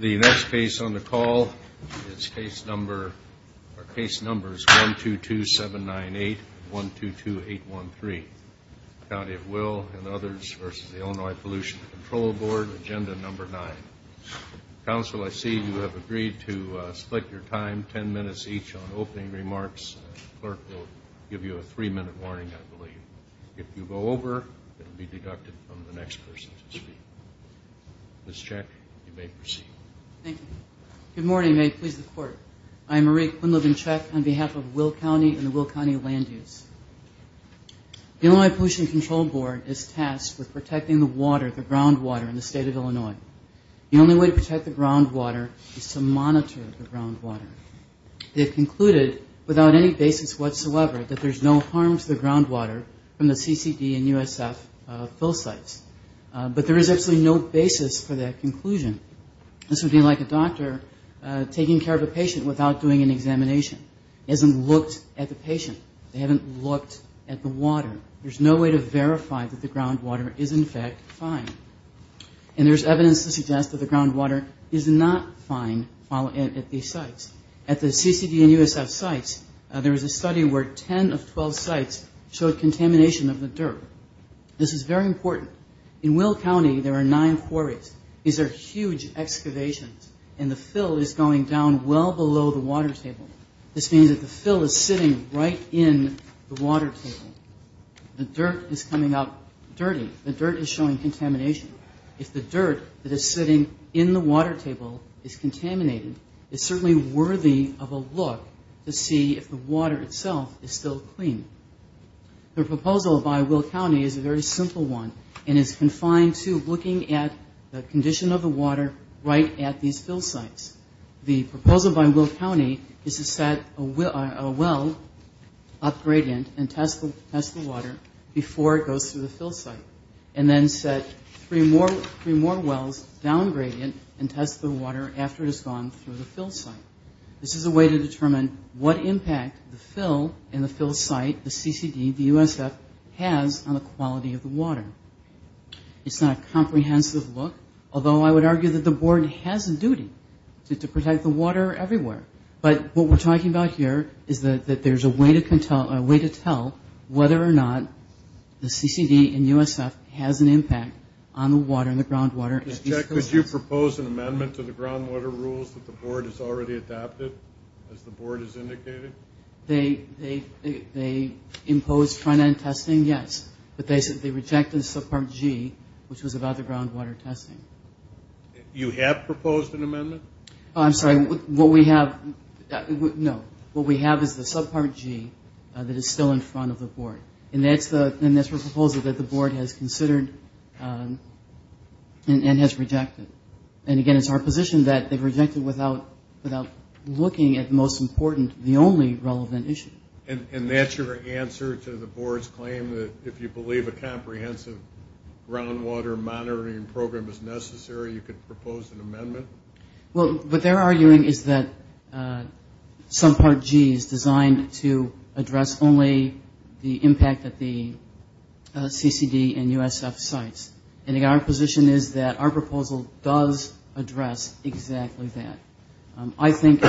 The next case on the call is case numbers 122798 and 122813, County of Will v. Illinois Pollution Control Board, agenda number 9. Counsel, I see you have agreed to split your time ten minutes each on opening remarks. The clerk will give you a three minute warning, I believe. If you go over, it will be deducted from the next person to speak. Ms. Cech, you may proceed. Thank you. Good morning, and may it please the Court. I am Marie Quinlivan-Cech on behalf of Will County and the Will County Land Use. The Illinois Pollution Control Board is tasked with protecting the water, the groundwater, in the state of Illinois. The only way to protect the groundwater is to monitor the groundwater. They have concluded, without any basis whatsoever, that there is no harm to the groundwater from the CCD and USF fill sites. But there is absolutely no basis for that conclusion. This would be like a doctor taking care of a patient without doing an examination. He hasn't looked at the patient. They haven't looked at the water. There's no way to verify that the groundwater is, in fact, fine. And there's evidence to suggest that the groundwater is not fine at these sites. At the CCD and USF sites, there was a study where 10 of 12 sites showed contamination of the dirt. This is very important. In Will County, there are nine quarries. These are huge excavations, and the fill is going down well below the water table. This means that the fill is sitting right in the water table. The dirt is coming up dirty. The dirt is showing contamination. If the dirt that is sitting in the water table is contaminated, it's certainly worthy of a look to see if the water itself is still clean. The proposal by Will County is a very simple one, and it's confined to looking at the condition of the water right at these fill sites. The proposal by Will County is to set a well up gradient and test the water before it goes through the fill site, and then set three more wells down gradient and test the water after it has gone through the fill site. This is a way to determine what impact the fill and the fill site, the CCD, the USF, has on the quality of the water. It's not a comprehensive look, although I would argue that the board has a duty to protect the water everywhere. But what we're talking about here is that there's a way to tell whether or not the CCD and USF has an impact on the water and the groundwater at these fill sites. Could you propose an amendment to the groundwater rules that the board has already adopted, as the board has indicated? They imposed front-end testing, yes, but they rejected subpart G, which was about the groundwater testing. You have proposed an amendment? I'm sorry. What we have is the subpart G that is still in front of the board, and that's the proposal that the board has considered and has rejected. And, again, it's our position that they've rejected without looking at, most important, the only relevant issue. And that's your answer to the board's claim that if you believe a comprehensive groundwater monitoring program is necessary, you could propose an amendment? Well, what they're arguing is that subpart G is designed to address only the impact that the CCD and USF sites, and our position is that our proposal does address exactly that. I think,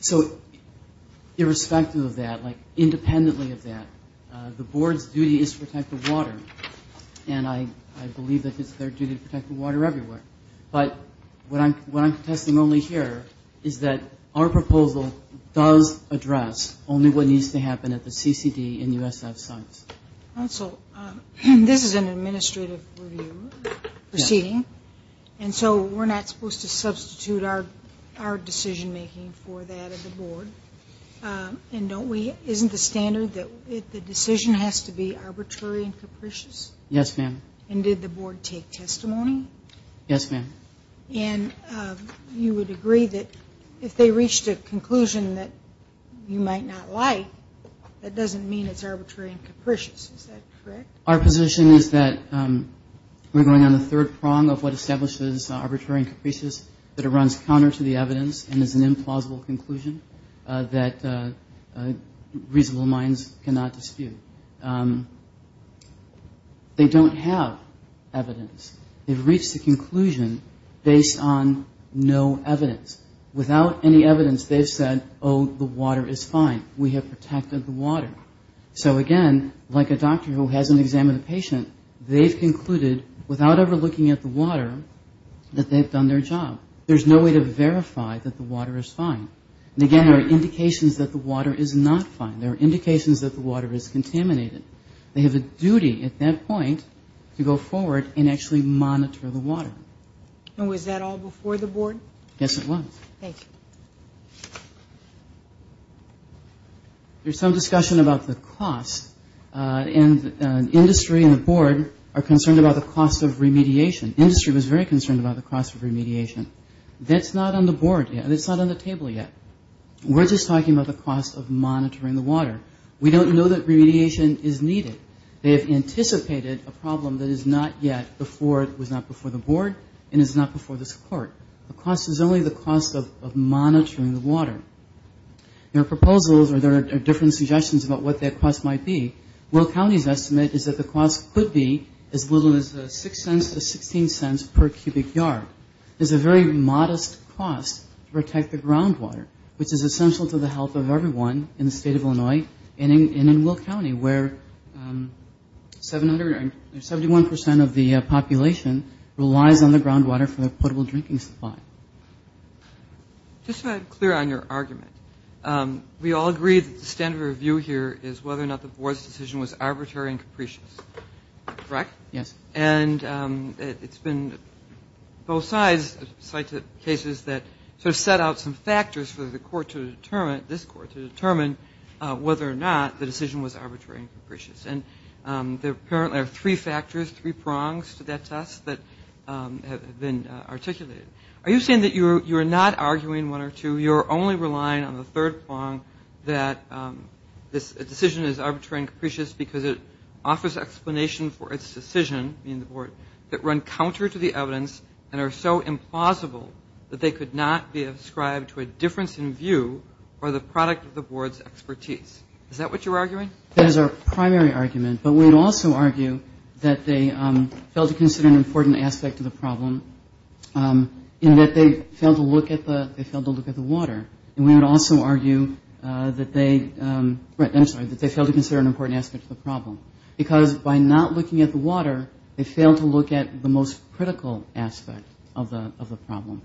so irrespective of that, like independently of that, the board's duty is to protect the water, and I believe that it's their duty to protect the water everywhere. But what I'm contesting only here is that our proposal does address only what needs to happen at the CCD and USF sites. Counsel, this is an administrative review proceeding, and so we're not supposed to substitute our decision-making for that of the board. And isn't the standard that the decision has to be arbitrary and capricious? Yes, ma'am. And did the board take testimony? Yes, ma'am. And you would agree that if they reached a conclusion that you might not like, that doesn't mean it's arbitrary and capricious. Is that correct? Our position is that we're going on the third prong of what establishes arbitrary and capricious, that it runs counter to the evidence and is an implausible conclusion that reasonable minds cannot dispute. They don't have evidence. They've reached a conclusion based on no evidence. Without any evidence, they've said, oh, the water is fine. We have protected the water. So, again, like a doctor who hasn't examined a patient, they've concluded without ever looking at the water that they've done their job. There's no way to verify that the water is fine. And, again, there are indications that the water is not fine. There are indications that the water is contaminated. They have a duty at that point to go forward and actually monitor the water. And was that all before the board? Yes, it was. Thank you. There's some discussion about the cost, and industry and the board are concerned about the cost of remediation. Industry was very concerned about the cost of remediation. That's not on the board. It's not on the table yet. We're just talking about the cost of monitoring the water. We don't know that remediation is needed. They have anticipated a problem that is not yet before the board and is not before this court. The cost is only the cost of monitoring the water. There are proposals or there are different suggestions about what that cost might be. Will County's estimate is that the cost could be as little as 6 cents to 16 cents per cubic yard. It's a very modest cost to protect the groundwater, which is essential to the health of everyone in the state of Illinois and in Will County where 71 percent of the population relies on the groundwater for their potable drinking supply. Just to be clear on your argument, we all agree that the standard of review here is whether or not the board's decision was arbitrary and capricious. Correct? Yes. And it's been both sides cite cases that sort of set out some factors for the court to determine, this court to determine whether or not the decision was arbitrary and capricious. And there are three factors, three prongs to that test that have been articulated. Are you saying that you're not arguing one or two, you're only relying on the third prong that a decision is arbitrary and capricious because it offers explanation for its decision, meaning the board, that run counter to the evidence and are so implausible that they could not be ascribed to a difference in view or the product of the board's expertise. Is that what you're arguing? That is our primary argument. But we would also argue that they failed to consider an important aspect of the problem in that they failed to look at the water. And we would also argue that they failed to consider an important aspect of the problem because by not looking at the water, they failed to look at the most critical aspect of the problem.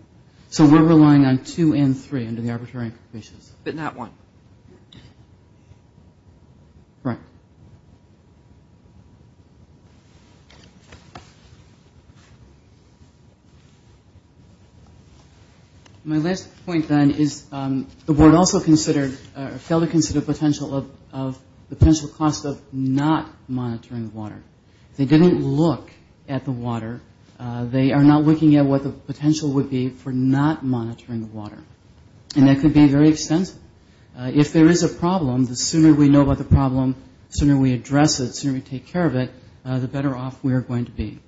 So we're relying on two and three under the arbitrary and capricious. But not one. Correct. Thank you. My last point, then, is the board also considered or failed to consider the potential cost of not monitoring the water. They didn't look at the water. They are not looking at what the potential would be for not monitoring the water. And that could be very extensive. If there is a problem, the sooner we know about the problem, the sooner we address it, the sooner we take care of it, the better off we are going to be.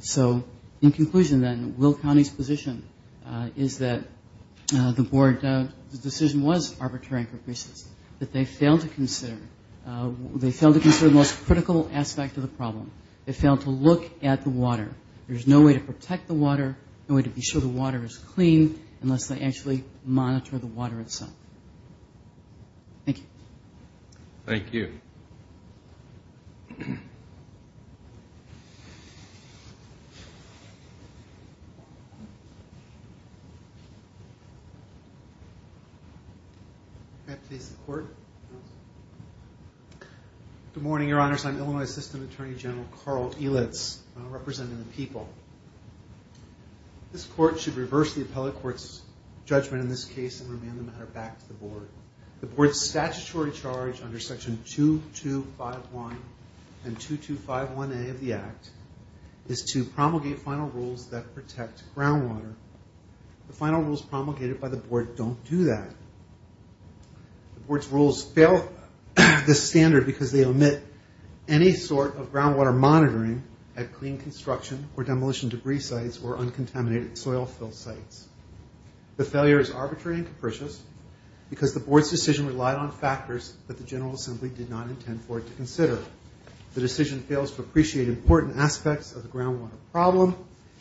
So in conclusion, then, Will County's position is that the board decision was arbitrary and capricious, that they failed to consider the most critical aspect of the problem. They failed to look at the water. There's no way to protect the water, no way to be sure the water is clean, unless they actually monitor the water itself. Thank you. Thank you. Good morning, Your Honors. I'm Illinois System Attorney General Carl Elitz, representing the people. This court should reverse the appellate court's judgment in this case and remand the matter back to the board. The board's statutory charge under Section 2251 and 2251A of the Act is to promulgate final rules that protect groundwater. The final rules promulgated by the board don't do that. The board's rules fail this standard because they omit any sort of groundwater monitoring at clean construction or demolition debris sites or uncontaminated soil fill sites. The failure is arbitrary and capricious because the board's decision relied on factors that the General Assembly did not intend for it to consider. The decision fails to appreciate important aspects of the groundwater problem,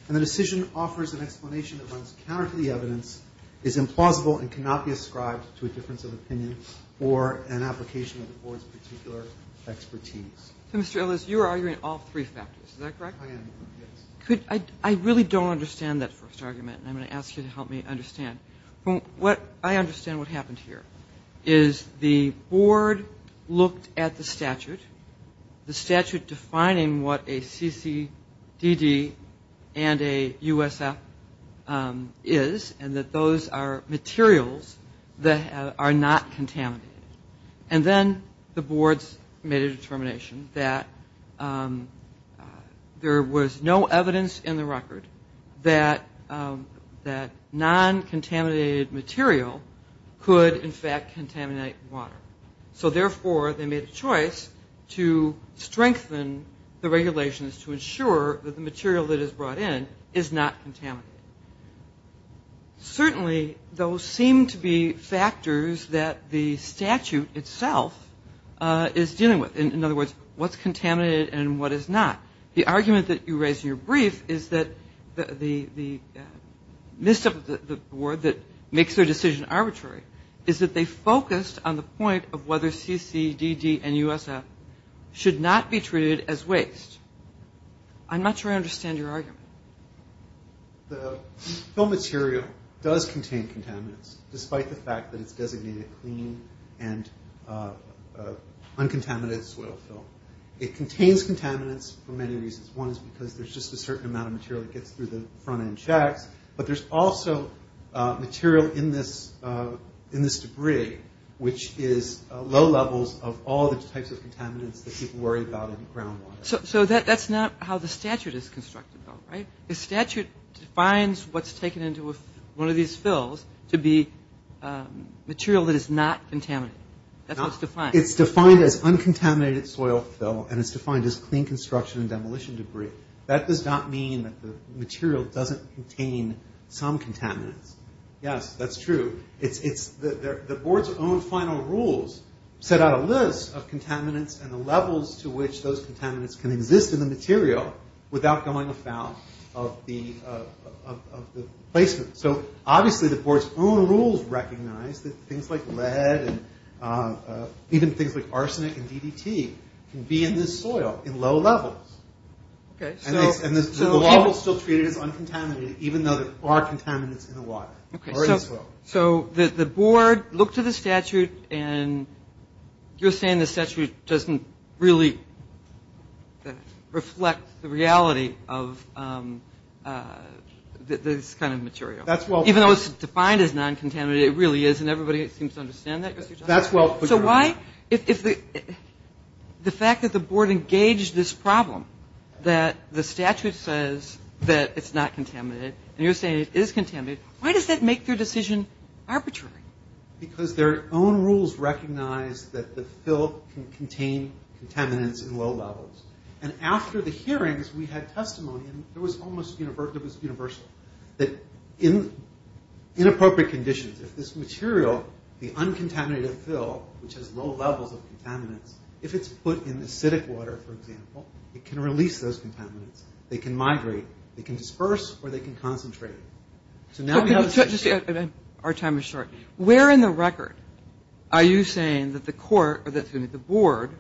and the decision offers an explanation that runs counter to the evidence, is implausible, and cannot be ascribed to a difference of opinion or an application of the board's particular expertise. So, Mr. Elitz, you are arguing all three factors, is that correct? I am, yes. I really don't understand that first argument, and I'm going to ask you to help me understand. I understand what happened here is the board looked at the statute, the statute defining what a CCDD and a USF is, and that those are materials that are not contaminated. And then the boards made a determination that there was no evidence in the record that non-contaminated material could, in fact, contaminate water. So, therefore, they made a choice to strengthen the regulations to ensure that the material that is brought in is not contaminated. Certainly, those seem to be factors that the statute itself is dealing with. In other words, what's contaminated and what is not. The argument that you raised in your brief is that the misstep of the board that makes their decision arbitrary is that they focused on the point of whether CCDD and USF should not be treated as waste. I'm not sure I understand your argument. The film material does contain contaminants, despite the fact that it's designated clean and uncontaminated soil film. It contains contaminants for many reasons. One is because there's just a certain amount of material that gets through the front end shacks, but there's also material in this debris, which is low levels of all the types of contaminants that people worry about in groundwater. So that's not how the statute is constructed, though, right? The statute defines what's taken into one of these fills to be material that is not contaminated. That's what's defined. It's defined as uncontaminated soil fill, and it's defined as clean construction and demolition debris. That does not mean that the material doesn't contain some contaminants. Yes, that's true. The board's own final rules set out a list of contaminants and the levels to which those contaminants can exist in the material without going afoul of the placement. So obviously the board's own rules recognize that things like lead and even things like arsenic and DDT can be in this soil in low levels. And the law will still treat it as uncontaminated, even though there are contaminants in the water or in the soil. So the board looked at the statute, and you're saying the statute doesn't really reflect the reality of this kind of material. That's well put. Even though it's defined as non-contaminated, it really is, and everybody seems to understand that. That's well put. So why, if the fact that the board engaged this problem, that the statute says that it's not contaminated, and you're saying it is contaminated, why does that make your decision arbitrary? Because their own rules recognize that the fill can contain contaminants in low levels. And after the hearings, we had testimony, and it was almost universal, that in inappropriate conditions, if this material, the uncontaminated fill, which has low levels of contaminants, if it's put in acidic water, for example, it can release those contaminants. They can migrate. They can disperse, or they can concentrate. Our time is short. Where in the record are you saying that the board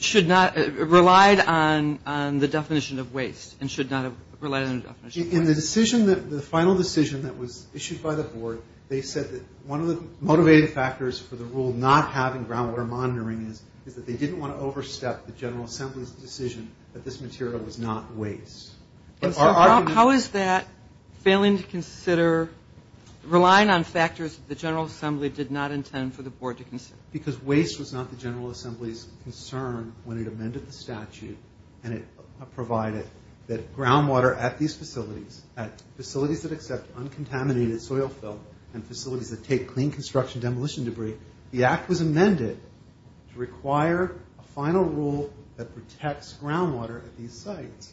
should not have relied on the definition of waste and should not have relied on the definition of waste? In the final decision that was issued by the board, they said that one of the motivating factors for the rule not having groundwater monitoring is that they didn't want to overstep the General Assembly's decision that this material was not waste. And so how is that failing to consider, relying on factors that the General Assembly did not intend for the board to consider? Because waste was not the General Assembly's concern when it amended the statute and it provided that groundwater at these facilities, at facilities that accept uncontaminated soil fill and facilities that take clean construction demolition debris, the act was amended to require a final rule that protects groundwater at these sites.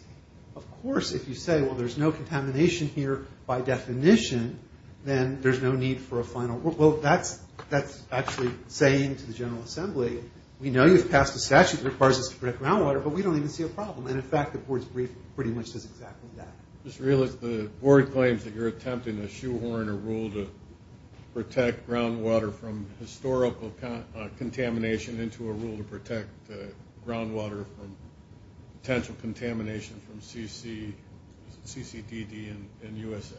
Of course, if you say, well, there's no contamination here by definition, then there's no need for a final rule. Well, that's actually saying to the General Assembly, we know you've passed a statute that requires us to protect groundwater, but we don't even see a problem. And, in fact, the board's brief pretty much does exactly that. I just realized the board claims that you're attempting to shoehorn a rule to protect groundwater from historical contamination into a rule to protect groundwater from potential contamination from CCDD and USF.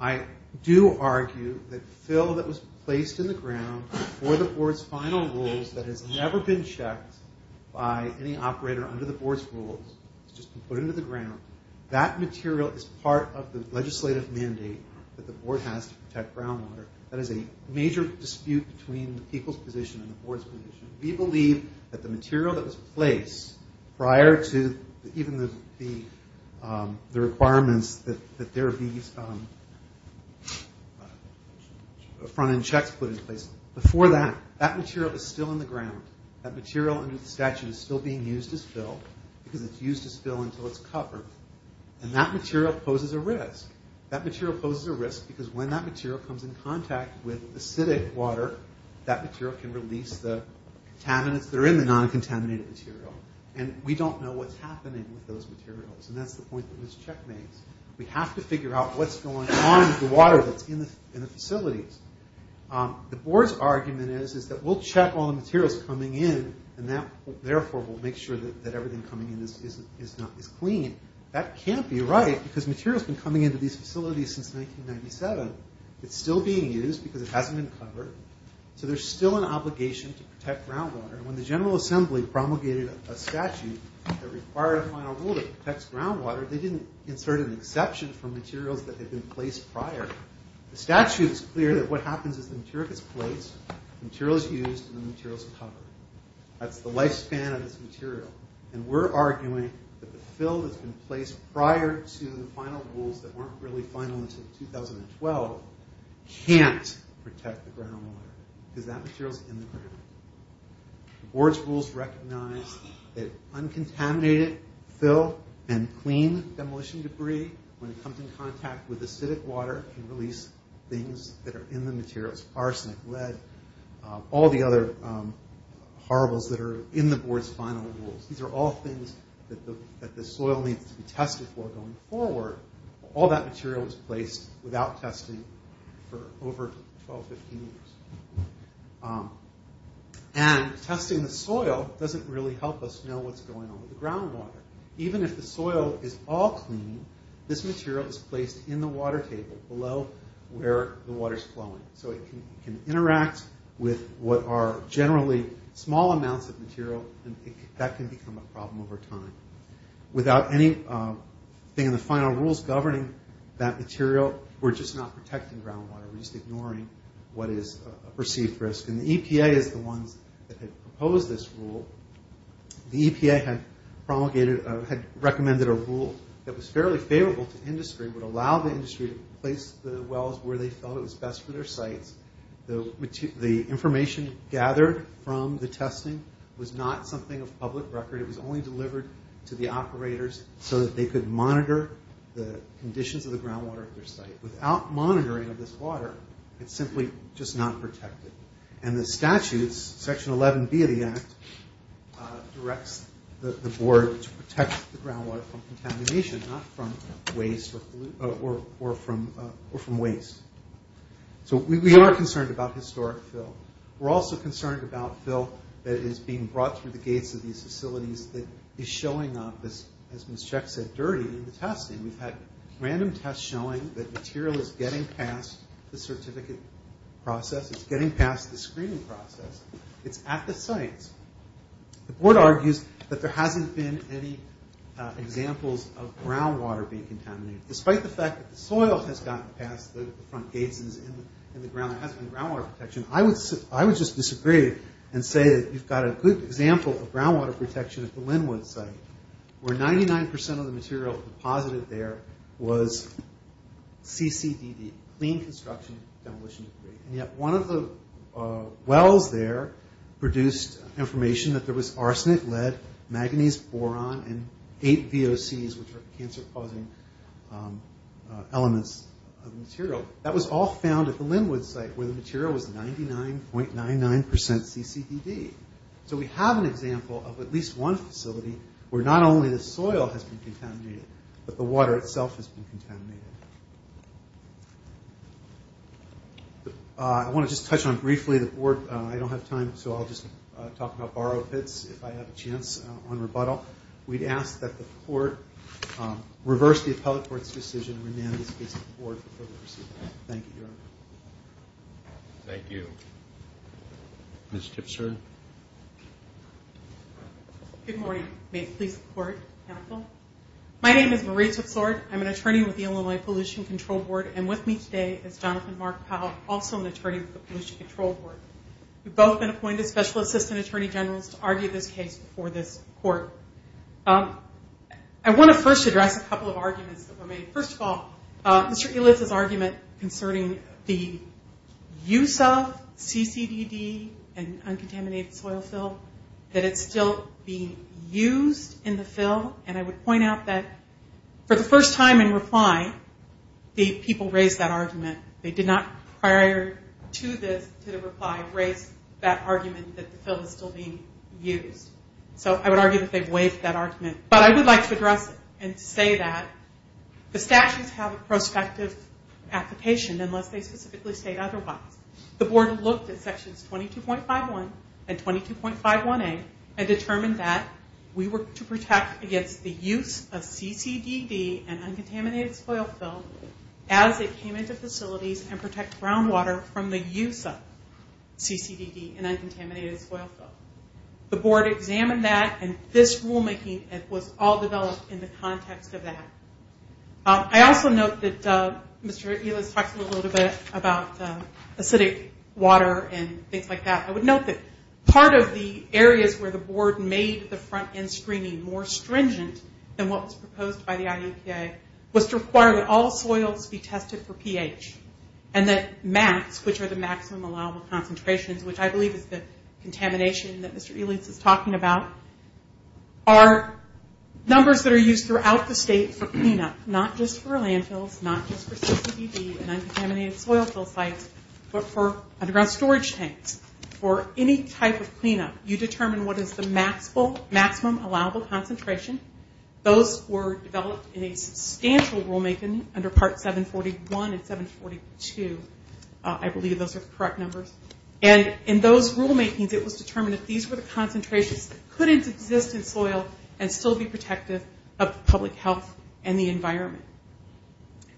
I do argue that fill that was placed in the ground for the board's final rules that has never been checked by any operator under the board's rules, it's just been put into the ground, that material is part of the legislative mandate that the board has to protect groundwater. That is a major dispute between the people's position and the board's position. We believe that the material that was placed prior to even the requirements that there be front-end checks put in place, before that, that material is still in the ground. That material under the statute is still being used as fill because it's used as fill until it's covered. And that material poses a risk. That material poses a risk because when that material comes in contact with acidic water, that material can release the contaminants that are in the non-contaminated material. And we don't know what's happening with those materials, and that's the point that this check makes. We have to figure out what's going on with the water that's in the facilities. The board's argument is that we'll check all the materials coming in, and therefore we'll make sure that everything coming in is clean. That can't be right because material's been coming into these facilities since 1997. It's still being used because it hasn't been covered. So there's still an obligation to protect groundwater. And when the General Assembly promulgated a statute that required a final rule that protects groundwater, they didn't insert an exception for materials that had been placed prior. The statute's clear that what happens is the material gets placed, the material's used, and the material's covered. That's the lifespan of this material. And we're arguing that the fill that's been placed prior to the final rules that weren't really final until 2012 can't protect the groundwater because that material's in the ground. The board's rules recognize that uncontaminated fill and clean demolition debris, when it comes in contact with acidic water, can release things that are in the materials, arsenic, lead, all the other horribles that are in the board's final rules. These are all things that the soil needs to be tested for going forward. All that material was placed without testing for over 12, 15 years. And testing the soil doesn't really help us know what's going on with the groundwater. Even if the soil is all clean, this material is placed in the water table, below where the water's flowing. So it can interact with what are generally small amounts of material, and that can become a problem over time. Without anything in the final rules governing that material, we're just not protecting groundwater. We're just ignoring what is a perceived risk. And the EPA is the ones that had proposed this rule. The EPA had promulgated, had recommended a rule that was fairly favorable to industry, would allow the industry to place the wells where they felt it was best for their sites. The information gathered from the testing was not something of public record. It was only delivered to the operators so that they could monitor the conditions of the groundwater at their site. Without monitoring of this water, it's simply just not protected. And the statutes, Section 11B of the Act, directs the board to protect the groundwater from contamination, not from waste or pollution, or from waste. So we are concerned about historic fill. We're also concerned about fill that is being brought through the gates of these facilities that is showing up as Ms. Cech said, dirty in the testing. We've had random tests showing that material is getting past the certificate process. It's getting past the screening process. It's at the sites. The board argues that there hasn't been any examples of groundwater being contaminated. Despite the fact that the soil has gotten past the front gates and is in the ground, there hasn't been groundwater protection. I would just disagree and say that you've got a good example of groundwater protection at the Linwood site where 99% of the material deposited there was CCDD, Clean Construction Demolition Debris. And yet one of the wells there produced information that there was arsenic, lead, manganese, boron, and eight VOCs, which are cancer-causing elements of the material. That was all found at the Linwood site where the material was 99.99% CCDD. So we have an example of at least one facility where not only the soil has been contaminated, but the water itself has been contaminated. I want to just touch on briefly the board. I don't have time, so I'll just talk about borrow pits if I have a chance on rebuttal. We'd ask that the court reverse the appellate court's decision and remand this case to the board for further receiving. Thank you, Your Honor. Thank you. Ms. Tipser. Good morning. May it please the court, counsel. My name is Marie Tipser. I'm an attorney with the Illinois Pollution Control Board, and with me today is Jonathan Mark Powell, also an attorney with the Pollution Control Board. We've both been appointed special assistant attorney generals to argue this case before this court. I want to first address a couple of arguments that were made. First of all, Mr. Ellis' argument concerning the use of CCDD and uncontaminated soil fill, that it's still being used in the fill, and I would point out that for the first time in reply, the people raised that argument. They did not prior to the reply raise that argument that the fill is still being used. So I would argue that they've waived that argument. But I would like to address it and say that the statutes have a prospective application unless they specifically state otherwise. The board looked at sections 22.51 and 22.51A and determined that we were to protect against the use of CCDD and uncontaminated soil fill as it came into facilities and protect groundwater from the use of CCDD and uncontaminated soil fill. The board examined that, and this rulemaking was all developed in the context of that. I also note that Mr. Ellis talked a little bit about acidic water and things like that. I would note that part of the areas where the board made the front end screening more stringent than what was proposed by the IEPA was to require that all soils be tested for pH and that max, which are the maximum allowable concentrations, which I believe is the contamination that Mr. Ellis is talking about, are numbers that are used throughout the state for cleanup, not just for landfills, not just for CCDD and uncontaminated soil fill sites, but for underground storage tanks. For any type of cleanup, you determine what is the maximum allowable concentration. Those were developed in a substantial rulemaking under Part 741 and 742. I believe those are the correct numbers. And in those rulemakings, it was determined that these were the concentrations that could exist in soil and still be protective of public health and the environment.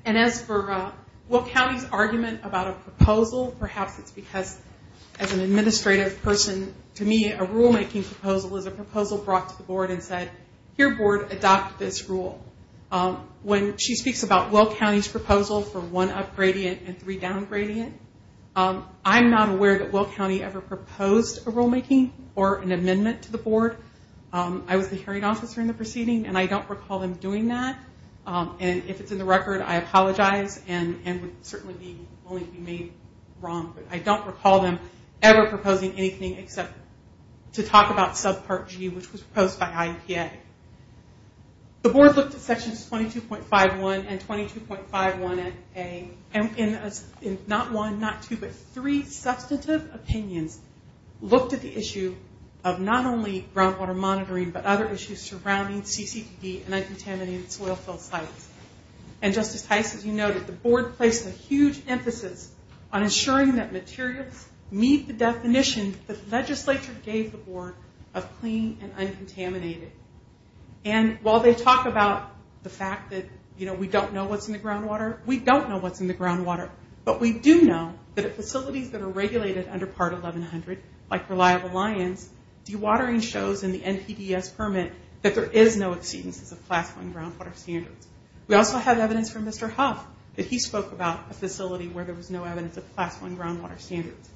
And as for Will County's argument about a proposal, perhaps it's because as an administrative person, to me, a rulemaking proposal is a proposal brought to the board and said, here, board, adopt this rule. When she speaks about Will County's proposal for one up gradient and three down gradient, I'm not aware that Will County ever proposed a rulemaking or an amendment to the board. I was the hearing officer in the proceeding, and I don't recall them doing that. And if it's in the record, I apologize and would certainly be willing to be made wrong. But I don't recall them ever proposing anything except to talk about subpart G, which was proposed by IEPA. The board looked at Sections 22.51 and 22.51A, and not one, not two, but three substantive opinions looked at the issue of not only groundwater monitoring but other issues surrounding CCPD and uncontaminated soil fill sites. And, Justice Heiss, as you noted, the board placed a huge emphasis on ensuring that materials meet the definition that the legislature gave the board of clean and uncontaminated. And while they talk about the fact that, you know, we don't know what's in the groundwater, we don't know what's in the groundwater. But we do know that at facilities that are regulated under Part 1100, like Reliable Lions, dewatering shows in the NPDS permit that there is no exceedances of Class I groundwater standards. We also have evidence from Mr. Huff that he spoke about a facility where there was no evidence of Class I groundwater standards.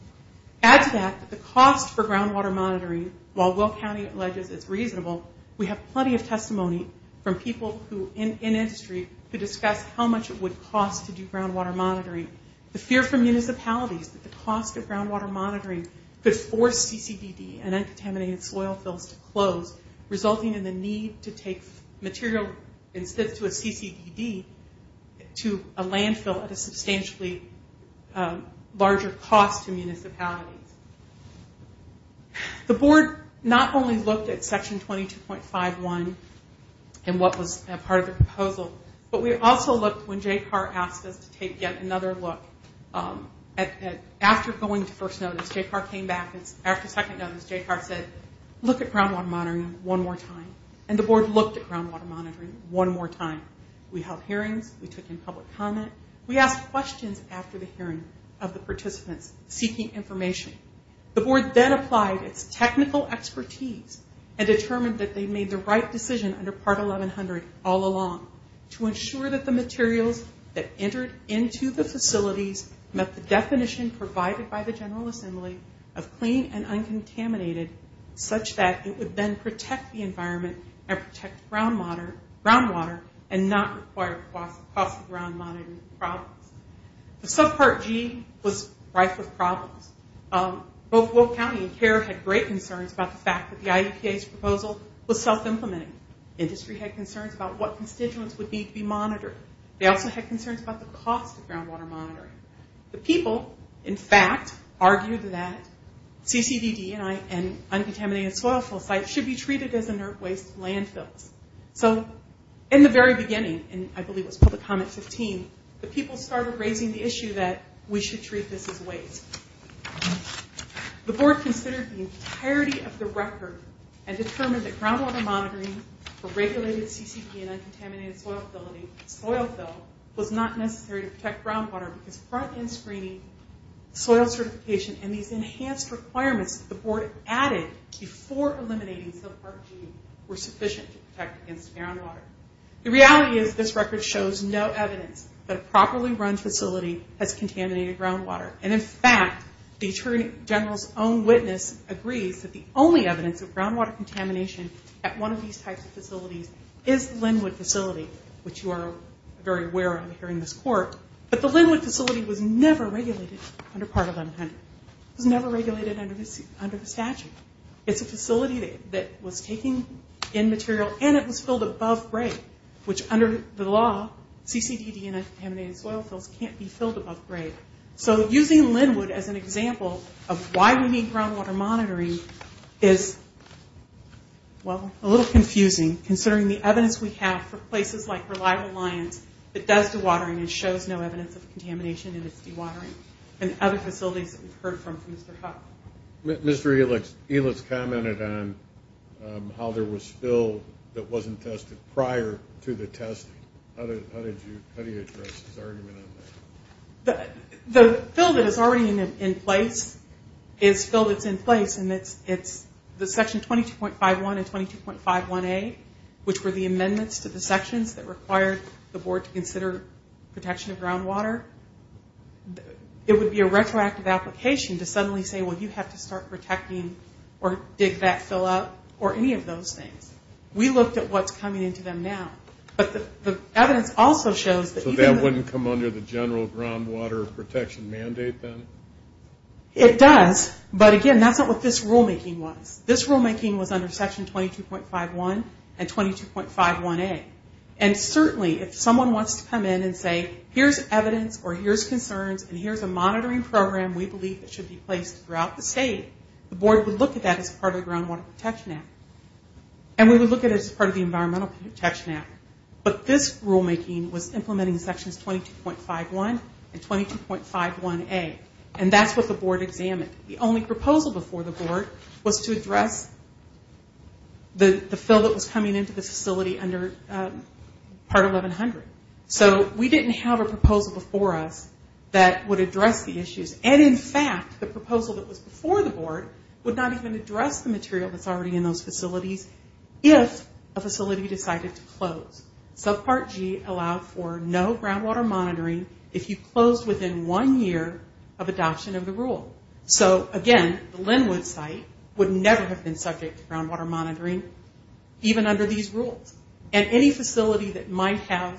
Add to that the cost for groundwater monitoring, while Will County alleges it's reasonable, we have plenty of testimony from people who, in industry, could discuss how much it would cost to do groundwater monitoring. The fear from municipalities that the cost of groundwater monitoring could force CCPD and uncontaminated soil fills to close, resulting in the need to take material instead to a CCPD to a landfill at a substantially larger cost to municipalities. The board not only looked at Section 22.51 and what was part of the proposal, but we also looked, when J. Carr asked us to take yet another look, after going to first notice, J. Carr came back, and after second notice, J. Carr said, look at groundwater monitoring one more time. And the board looked at groundwater monitoring one more time. We held hearings. We took in public comment. We asked questions after the hearing of the participants seeking information. The board then applied its technical expertise and determined that they made the right decision under Part 1100 all along to ensure that the materials that entered into the facilities met the definition provided by the General Assembly of clean and uncontaminated, such that it would then protect the environment and protect groundwater and not require cost of groundwater monitoring problems. The subpart G was rife with problems. Both Will County and Carr had great concerns about the fact that the IEPA's proposal was self-implementing. Industry had concerns about what constituents would need to be monitored. They also had concerns about the cost of groundwater monitoring. The people, in fact, argued that CCBD and uncontaminated soil fill sites should be treated as inert waste landfills. So in the very beginning, and I believe it was public comment 15, the people started raising the issue that we should treat this as waste. The board considered the entirety of the record and determined that groundwater monitoring for regulated CCBD and uncontaminated soil fill was not necessary to protect groundwater because front-end screening, soil certification, and these enhanced requirements that the board added before eliminating subpart G were sufficient to protect against groundwater. The reality is this record shows no evidence that a properly run facility has contaminated groundwater. And in fact, the Attorney General's own witness agrees that the only evidence of groundwater contamination at one of these types of facilities is the Linwood facility, which you are very aware of hearing this court. But the Linwood facility was never regulated under Part 1100. It was never regulated under the statute. It's a facility that was taking in material, and it was filled above grade, which under the law, CCBD and uncontaminated soil fills can't be filled above grade. So using Linwood as an example of why we need groundwater monitoring is, well, a little confusing considering the evidence we have for places like Reliable Alliance that does dewatering and shows no evidence of contamination in its dewatering and other facilities that we've heard from from Mr. Huck. Mr. Elitz commented on how there was fill that wasn't tested prior to the testing. How do you address his argument on that? The fill that is already in place is fill that's in place, and it's the section 22.51 and 22.51A, which were the amendments to the sections that required the board to consider protection of groundwater. It would be a retroactive application to suddenly say, well, you have to start protecting or dig that fill up or any of those things. We looked at what's coming into them now. But the evidence also shows that even the... So that wouldn't come under the general groundwater protection mandate then? It does, but again, that's not what this rulemaking was. This rulemaking was under section 22.51 and 22.51A. And certainly if someone wants to come in and say, here's evidence or here's concerns and here's a monitoring program we believe that should be placed throughout the state, the board would look at that as part of the groundwater protection act. And we would look at it as part of the environmental protection act. But this rulemaking was implementing sections 22.51 and 22.51A. And that's what the board examined. The only proposal before the board was to address the fill that was coming into the facility under part 1100. So we didn't have a proposal before us that would address the issues. And in fact, the proposal that was before the board would not even address the material that's already in those facilities if a facility decided to close. Subpart G allowed for no groundwater monitoring if you closed within one year of adoption of the rule. So again, the Linwood site would never have been subject to groundwater monitoring even under these rules. And any facility that might have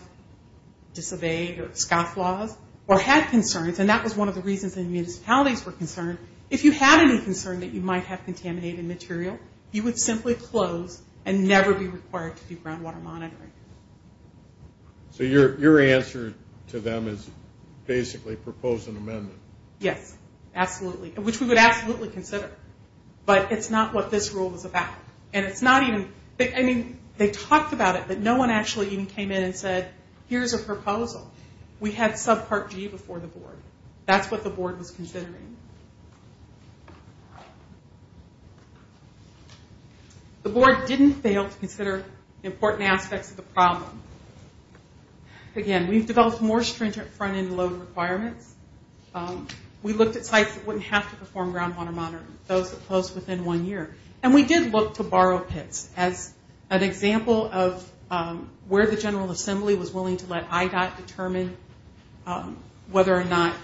disobeyed or scoffed laws or had concerns, and that was one of the reasons the municipalities were concerned, if you had any concern that you might have contaminated material, you would simply close and never be required to do groundwater monitoring. So your answer to them is basically propose an amendment. Yes, absolutely. Which we would absolutely consider. But it's not what this rule was about. And it's not even, I mean, they talked about it, but no one actually even came in and said, here's a proposal. We had subpart G before the board. That's what the board was considering. The board didn't fail to consider important aspects of the problem. Again, we've developed more stringent front-end load requirements. We looked at sites that wouldn't have to perform groundwater monitoring, those that closed within one year. And we did look to borrow pits as an example of where the General Assembly was willing to let IDOT determine whether or not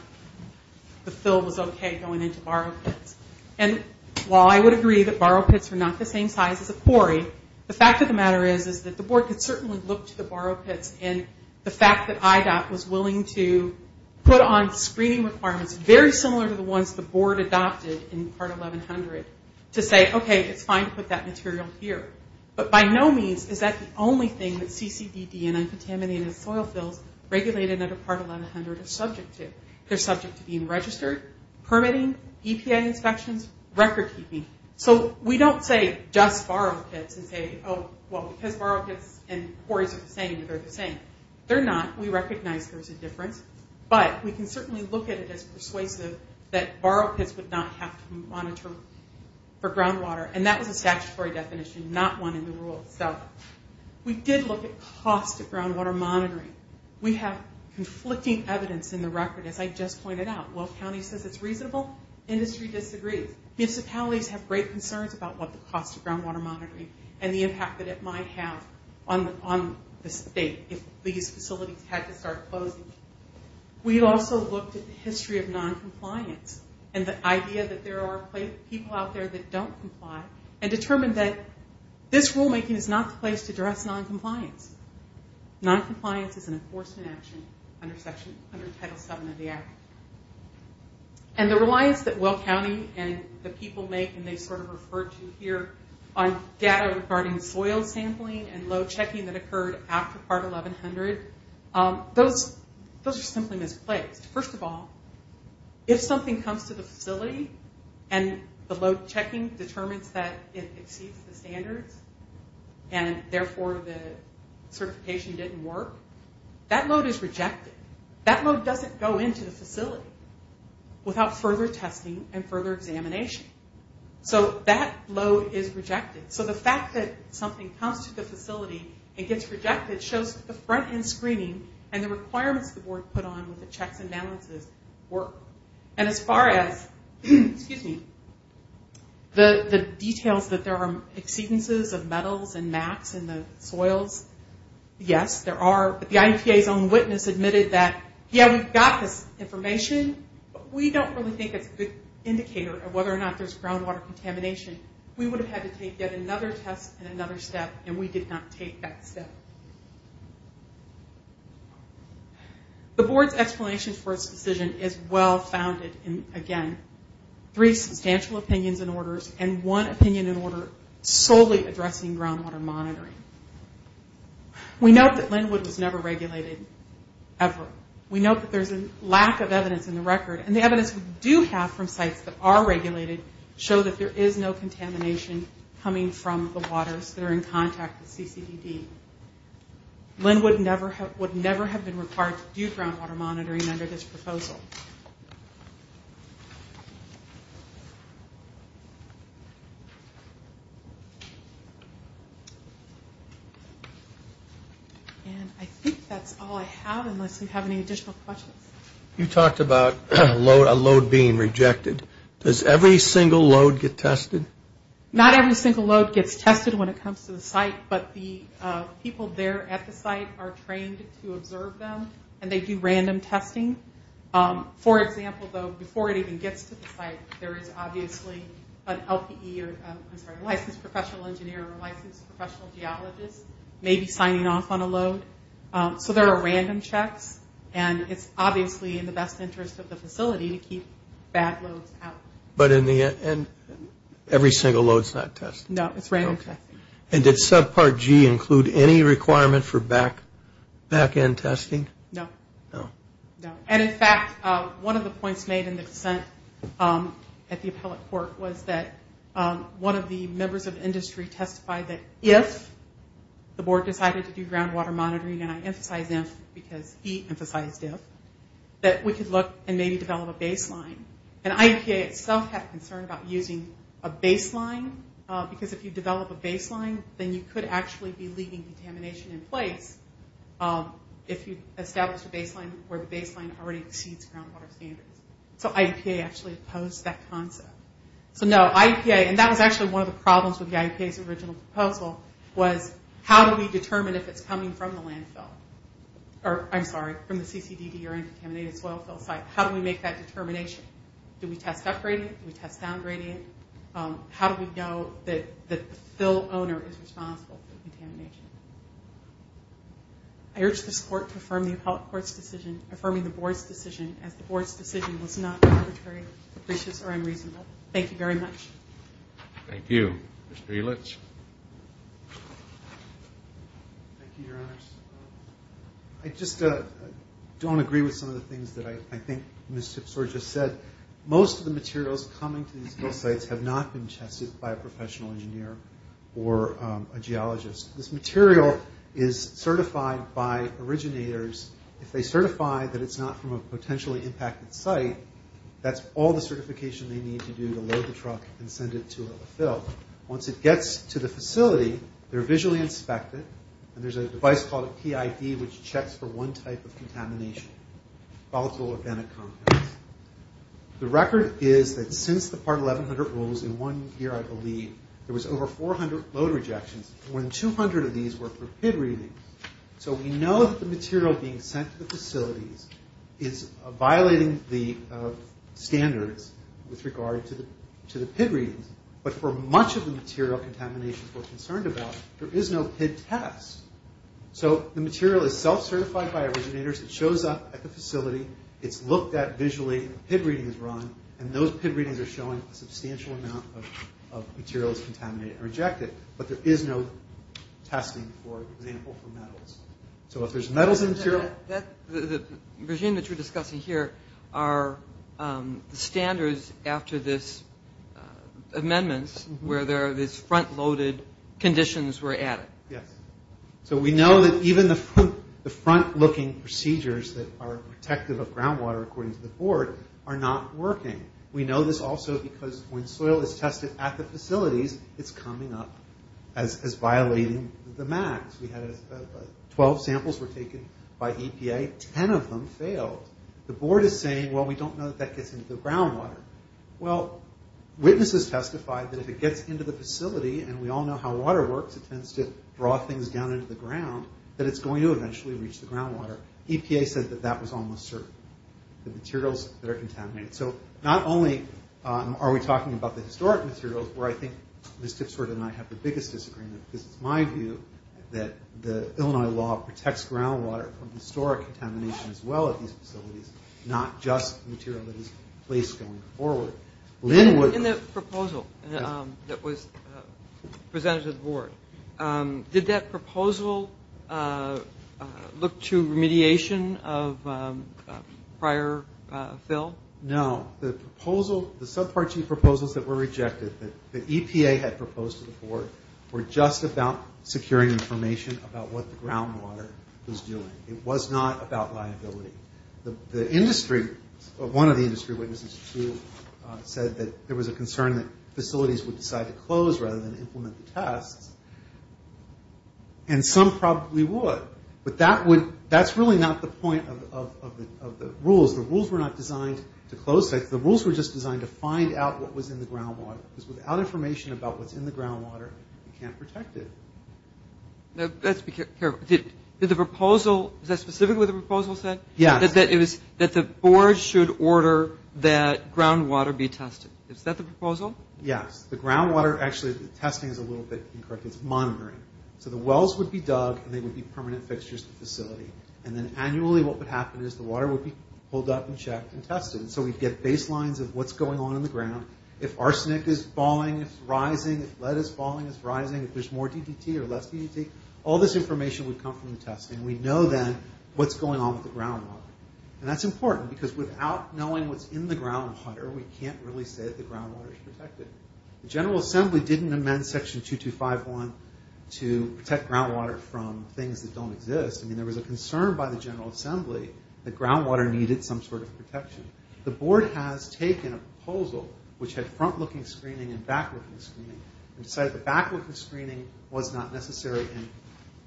the fill was okay going into borrow pits. And while I would agree that borrow pits were not the same size as a quarry, the fact of the matter is that the board could certainly look to the borrow pits and the fact that IDOT was willing to put on screening requirements very similar to the ones the board adopted in Part 1100 to say, okay, it's fine to put that material here. But by no means is that the only thing that CCDD and uncontaminated soil fills regulated under Part 1100 are subject to. They're subject to being registered, permitting, EPA inspections, record keeping. So we don't say just borrow pits and say, oh, well, because borrow pits and quarries are the same, they're the same. They're not. We recognize there's a difference. But we can certainly look at it as persuasive that borrow pits would not have to monitor for groundwater. And that was a statutory definition, not one in the rule itself. We did look at cost of groundwater monitoring. We have conflicting evidence in the record, as I just pointed out. Will County says it's reasonable. Industry disagrees. Municipalities have great concerns about what the cost of groundwater monitoring and the impact that it might have on the state if these facilities had to start closing. We also looked at the history of noncompliance and the idea that there are people out there that don't comply and determined that this rulemaking is not the place to address noncompliance. Noncompliance is an enforcement action under Title VII of the Act. And the reliance that Will County and the people make, and they sort of refer to here on data regarding soil sampling and load checking that occurred after Part 1100, those are simply misplaced. First of all, if something comes to the facility and the load checking determines that it exceeds the standards and therefore the certification didn't work, that load is rejected. That load doesn't go into the facility without further testing and further examination. So that load is rejected. So the fact that something comes to the facility and gets rejected shows the front-end screening and the requirements the board put on with the checks and balances work. And as far as the details that there are exceedances of metals and mats in the soils, yes, there are, but the IEPA's own witness admitted that, yeah, we've got this information, but we don't really think it's a good indicator of whether or not there's groundwater contamination. We would have had to take yet another test and another step, and we did not take that step. The board's explanation for its decision is well-founded in, again, three substantial opinions and orders, and one opinion and order solely addressing groundwater monitoring. We note that Linwood was never regulated, ever. We note that there's a lack of evidence in the record, and the evidence we do have from sites that are regulated show that there is no contamination coming from the waters that are in contact with CCDD. Linwood would never have been required to do groundwater monitoring under this proposal. And I think that's all I have, unless you have any additional questions. You talked about a load being rejected. Does every single load get tested? Not every single load gets tested when it comes to the site, but the people there at the site are trained to observe them, and they do random testing. For example, though, before it even gets to the site, there is obviously a licensed professional engineer or a licensed professional geologist maybe signing off on a load. So there are random checks, and it's obviously in the best interest of the facility to keep bad loads out. But every single load is not tested? No, it's random testing. Okay. And did subpart G include any requirement for back-end testing? No. No. No. And, in fact, one of the points made in the dissent at the appellate court was that one of the members of industry testified that if the board decided to do groundwater monitoring, and I emphasize if because he emphasized if, that we could look and maybe develop a baseline. And IEPA itself had a concern about using a baseline, because if you develop a baseline, then you could actually be leaving contamination in place if you establish a baseline where the baseline already exceeds groundwater standards. So IEPA actually opposed that concept. So, no, IEPA, and that was actually one of the problems with the IEPA's original proposal, was how do we determine if it's coming from the landfill? Or, I'm sorry, from the CCDD or uncontaminated soil fill site. How do we make that determination? Do we test up gradient? Do we test down gradient? How do we know that the fill owner is responsible for the contamination? I urge this court to affirm the appellate court's decision, affirming the board's decision, as the board's decision was not arbitrary, capricious, or unreasonable. Thank you very much. Thank you. Thank you. Mr. Eilitsch. Thank you, Your Honors. I just don't agree with some of the things that I think Ms. Tipsore just said. Most of the materials coming to these fill sites have not been tested by a professional engineer or a geologist. This material is certified by originators. If they certify that it's not from a potentially impacted site, that's all the certification they need to do to load the truck and send it to a fill. Once it gets to the facility, they're visually inspected, and there's a device called a PID which checks for one type of contamination, volatile organic compounds. The record is that since the Part 1100 rules in one year, I believe, there was over 400 load rejections, and more than 200 of these were for PID readings. So we know that the material being sent to the facilities is violating the standards with regard to the PID readings, but for much of the material contaminations we're concerned about, there is no PID test. So the material is self-certified by originators. It shows up at the facility. It's looked at visually. A PID reading is run, and those PID readings are showing a substantial amount of materials contaminated or rejected, but there is no testing, for example, for metals. So if there's metals in the material... The regime that you're discussing here are the standards after this amendment where there are these front-loaded conditions were added. Yes. So we know that even the front-looking procedures that are protective of groundwater, according to the board, are not working. We know this also because when soil is tested at the facilities, it's coming up as violating the MACs. We had 12 samples were taken by EPA. Ten of them failed. The board is saying, well, we don't know that that gets into the groundwater. Well, witnesses testified that if it gets into the facility, and we all know how water works, it tends to draw things down into the ground, that it's going to eventually reach the groundwater. EPA said that that was almost certain, the materials that are contaminated. So not only are we talking about the historic materials, where I think Ms. Tipsworth and I have the biggest disagreement, because it's my view that the Illinois law protects groundwater from historic contamination as well at these facilities, not just material that is placed going forward. In the proposal that was presented to the board, did that proposal look to remediation of prior fail? No. The proposal, the subpart G proposals that were rejected, that EPA had proposed to the board, were just about securing information about what the groundwater was doing. It was not about liability. The industry, one of the industry witnesses, too, said that there was a concern that facilities would decide to close rather than implement the tests, and some probably would. But that's really not the point of the rules. The rules were not designed to close sites. The rules were just designed to find out what was in the groundwater, because without information about what's in the groundwater, you can't protect it. Let's be careful. Did the proposal, is that specifically what the proposal said? Yes. That the board should order that groundwater be tested. Is that the proposal? Yes. The groundwater, actually, the testing is a little bit incorrect. It's monitoring. So the wells would be dug, and they would be permanent fixtures to the facility. And then annually what would happen is the water would be pulled up and checked and tested. And so we'd get baselines of what's going on in the ground. If arsenic is falling, if it's rising, if lead is falling, if it's rising, if there's more DDT or less DDT, all this information would come from the testing. We'd know then what's going on with the groundwater. And that's important, because without knowing what's in the groundwater, we can't really say that the groundwater is protected. The General Assembly didn't amend Section 2251 to protect groundwater from things that don't exist. I mean, there was a concern by the General Assembly that groundwater needed some sort of protection. The board has taken a proposal, which had front-looking screening and back-looking screening, and decided the back-looking screening was not necessary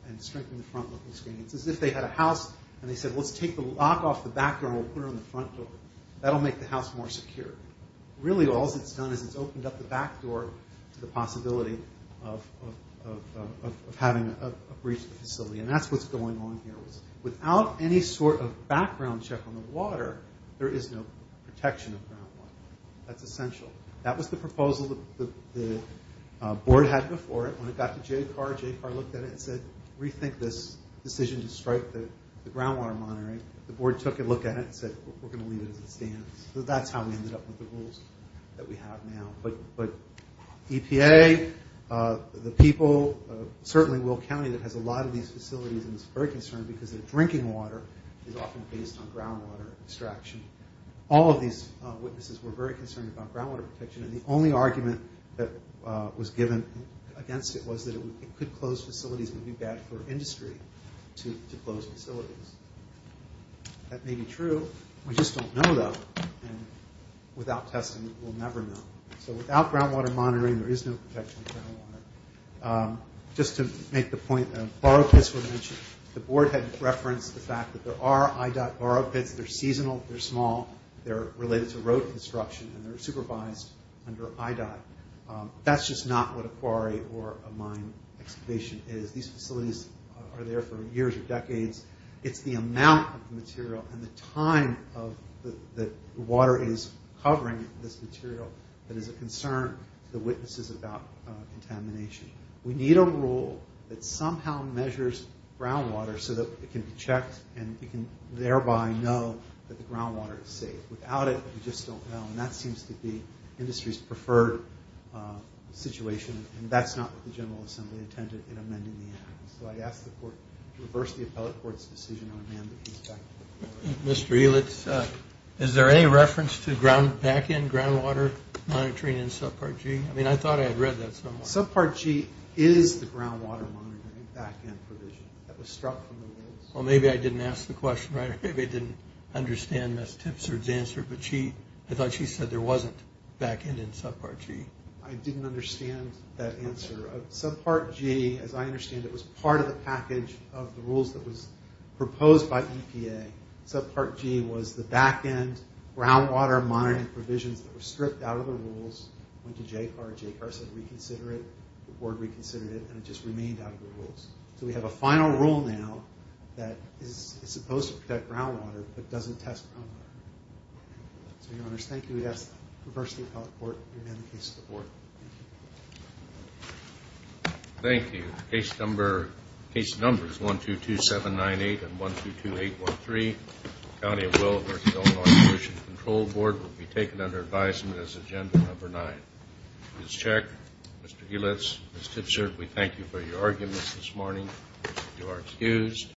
and strengthened the front-looking screening. It's as if they had a house, and they said, let's take the lock off the back door and we'll put it on the front door. That'll make the house more secure. Really, all that's done is it's opened up the back door to the possibility of having a breach of the facility. And that's what's going on here. Without any sort of background check on the water, there is no protection of groundwater. That's essential. That was the proposal the board had before it. When it got to JCAR, JCAR looked at it and said, rethink this decision to strike the groundwater monitoring. The board took a look at it and said, we're going to leave it as it stands. So that's how we ended up with the rules that we have now. But EPA, the people, certainly Will County, that has a lot of these facilities, and is very concerned because their drinking water is often based on groundwater extraction. All of these witnesses were very concerned about groundwater protection, and the only argument that was given against it was that it could close facilities and be bad for industry to close facilities. That may be true. We just don't know, though. And without testing, we'll never know. So without groundwater monitoring, there is no protection of groundwater. Just to make the point, borrow pits were mentioned. The board had referenced the fact that there are IDOT borrow pits. They're seasonal. They're small. They're related to road construction, and they're supervised under IDOT. That's just not what a quarry or a mine excavation is. These facilities are there for years or decades. It's the amount of material and the time that water is covering this material that is a concern to the witnesses about contamination. We need a rule that somehow measures groundwater so that it can be checked and you can thereby know that the groundwater is safe. Without it, we just don't know, and that seems to be industry's preferred situation, and that's not what the General Assembly intended in amending the act. So I'd ask the court to reverse the appellate court's decision on amending the act. Mr. Eelitz, is there any reference to back-end groundwater monitoring in Subpart G? I mean, I thought I had read that somewhere. Subpart G is the groundwater monitoring back-end provision that was struck from the woods. Well, maybe I didn't ask the question right, or maybe I didn't understand Ms. Tipsford's answer, but I thought she said there wasn't back-end in Subpart G. I didn't understand that answer. Subpart G, as I understand it, was part of the package of the rules that was proposed by EPA. Subpart G was the back-end groundwater monitoring provisions that were stripped out of the rules, went to JCAR. JCAR said reconsider it. The board reconsidered it, and it just remained out of the rules. So we have a final rule now that is supposed to protect groundwater but doesn't test groundwater. So, Your Honors, thank you. We'd ask to reverse the appellate court to amend the case of the board. Thank you. Thank you. The case number is 122798 and 122813. The County of Willamette, North Carolina Ocean Control Board will be taken under advisement as agenda number nine. Ms. Check, Mr. Helitz, Ms. Tipsford, we thank you for your arguments this morning. You are excused.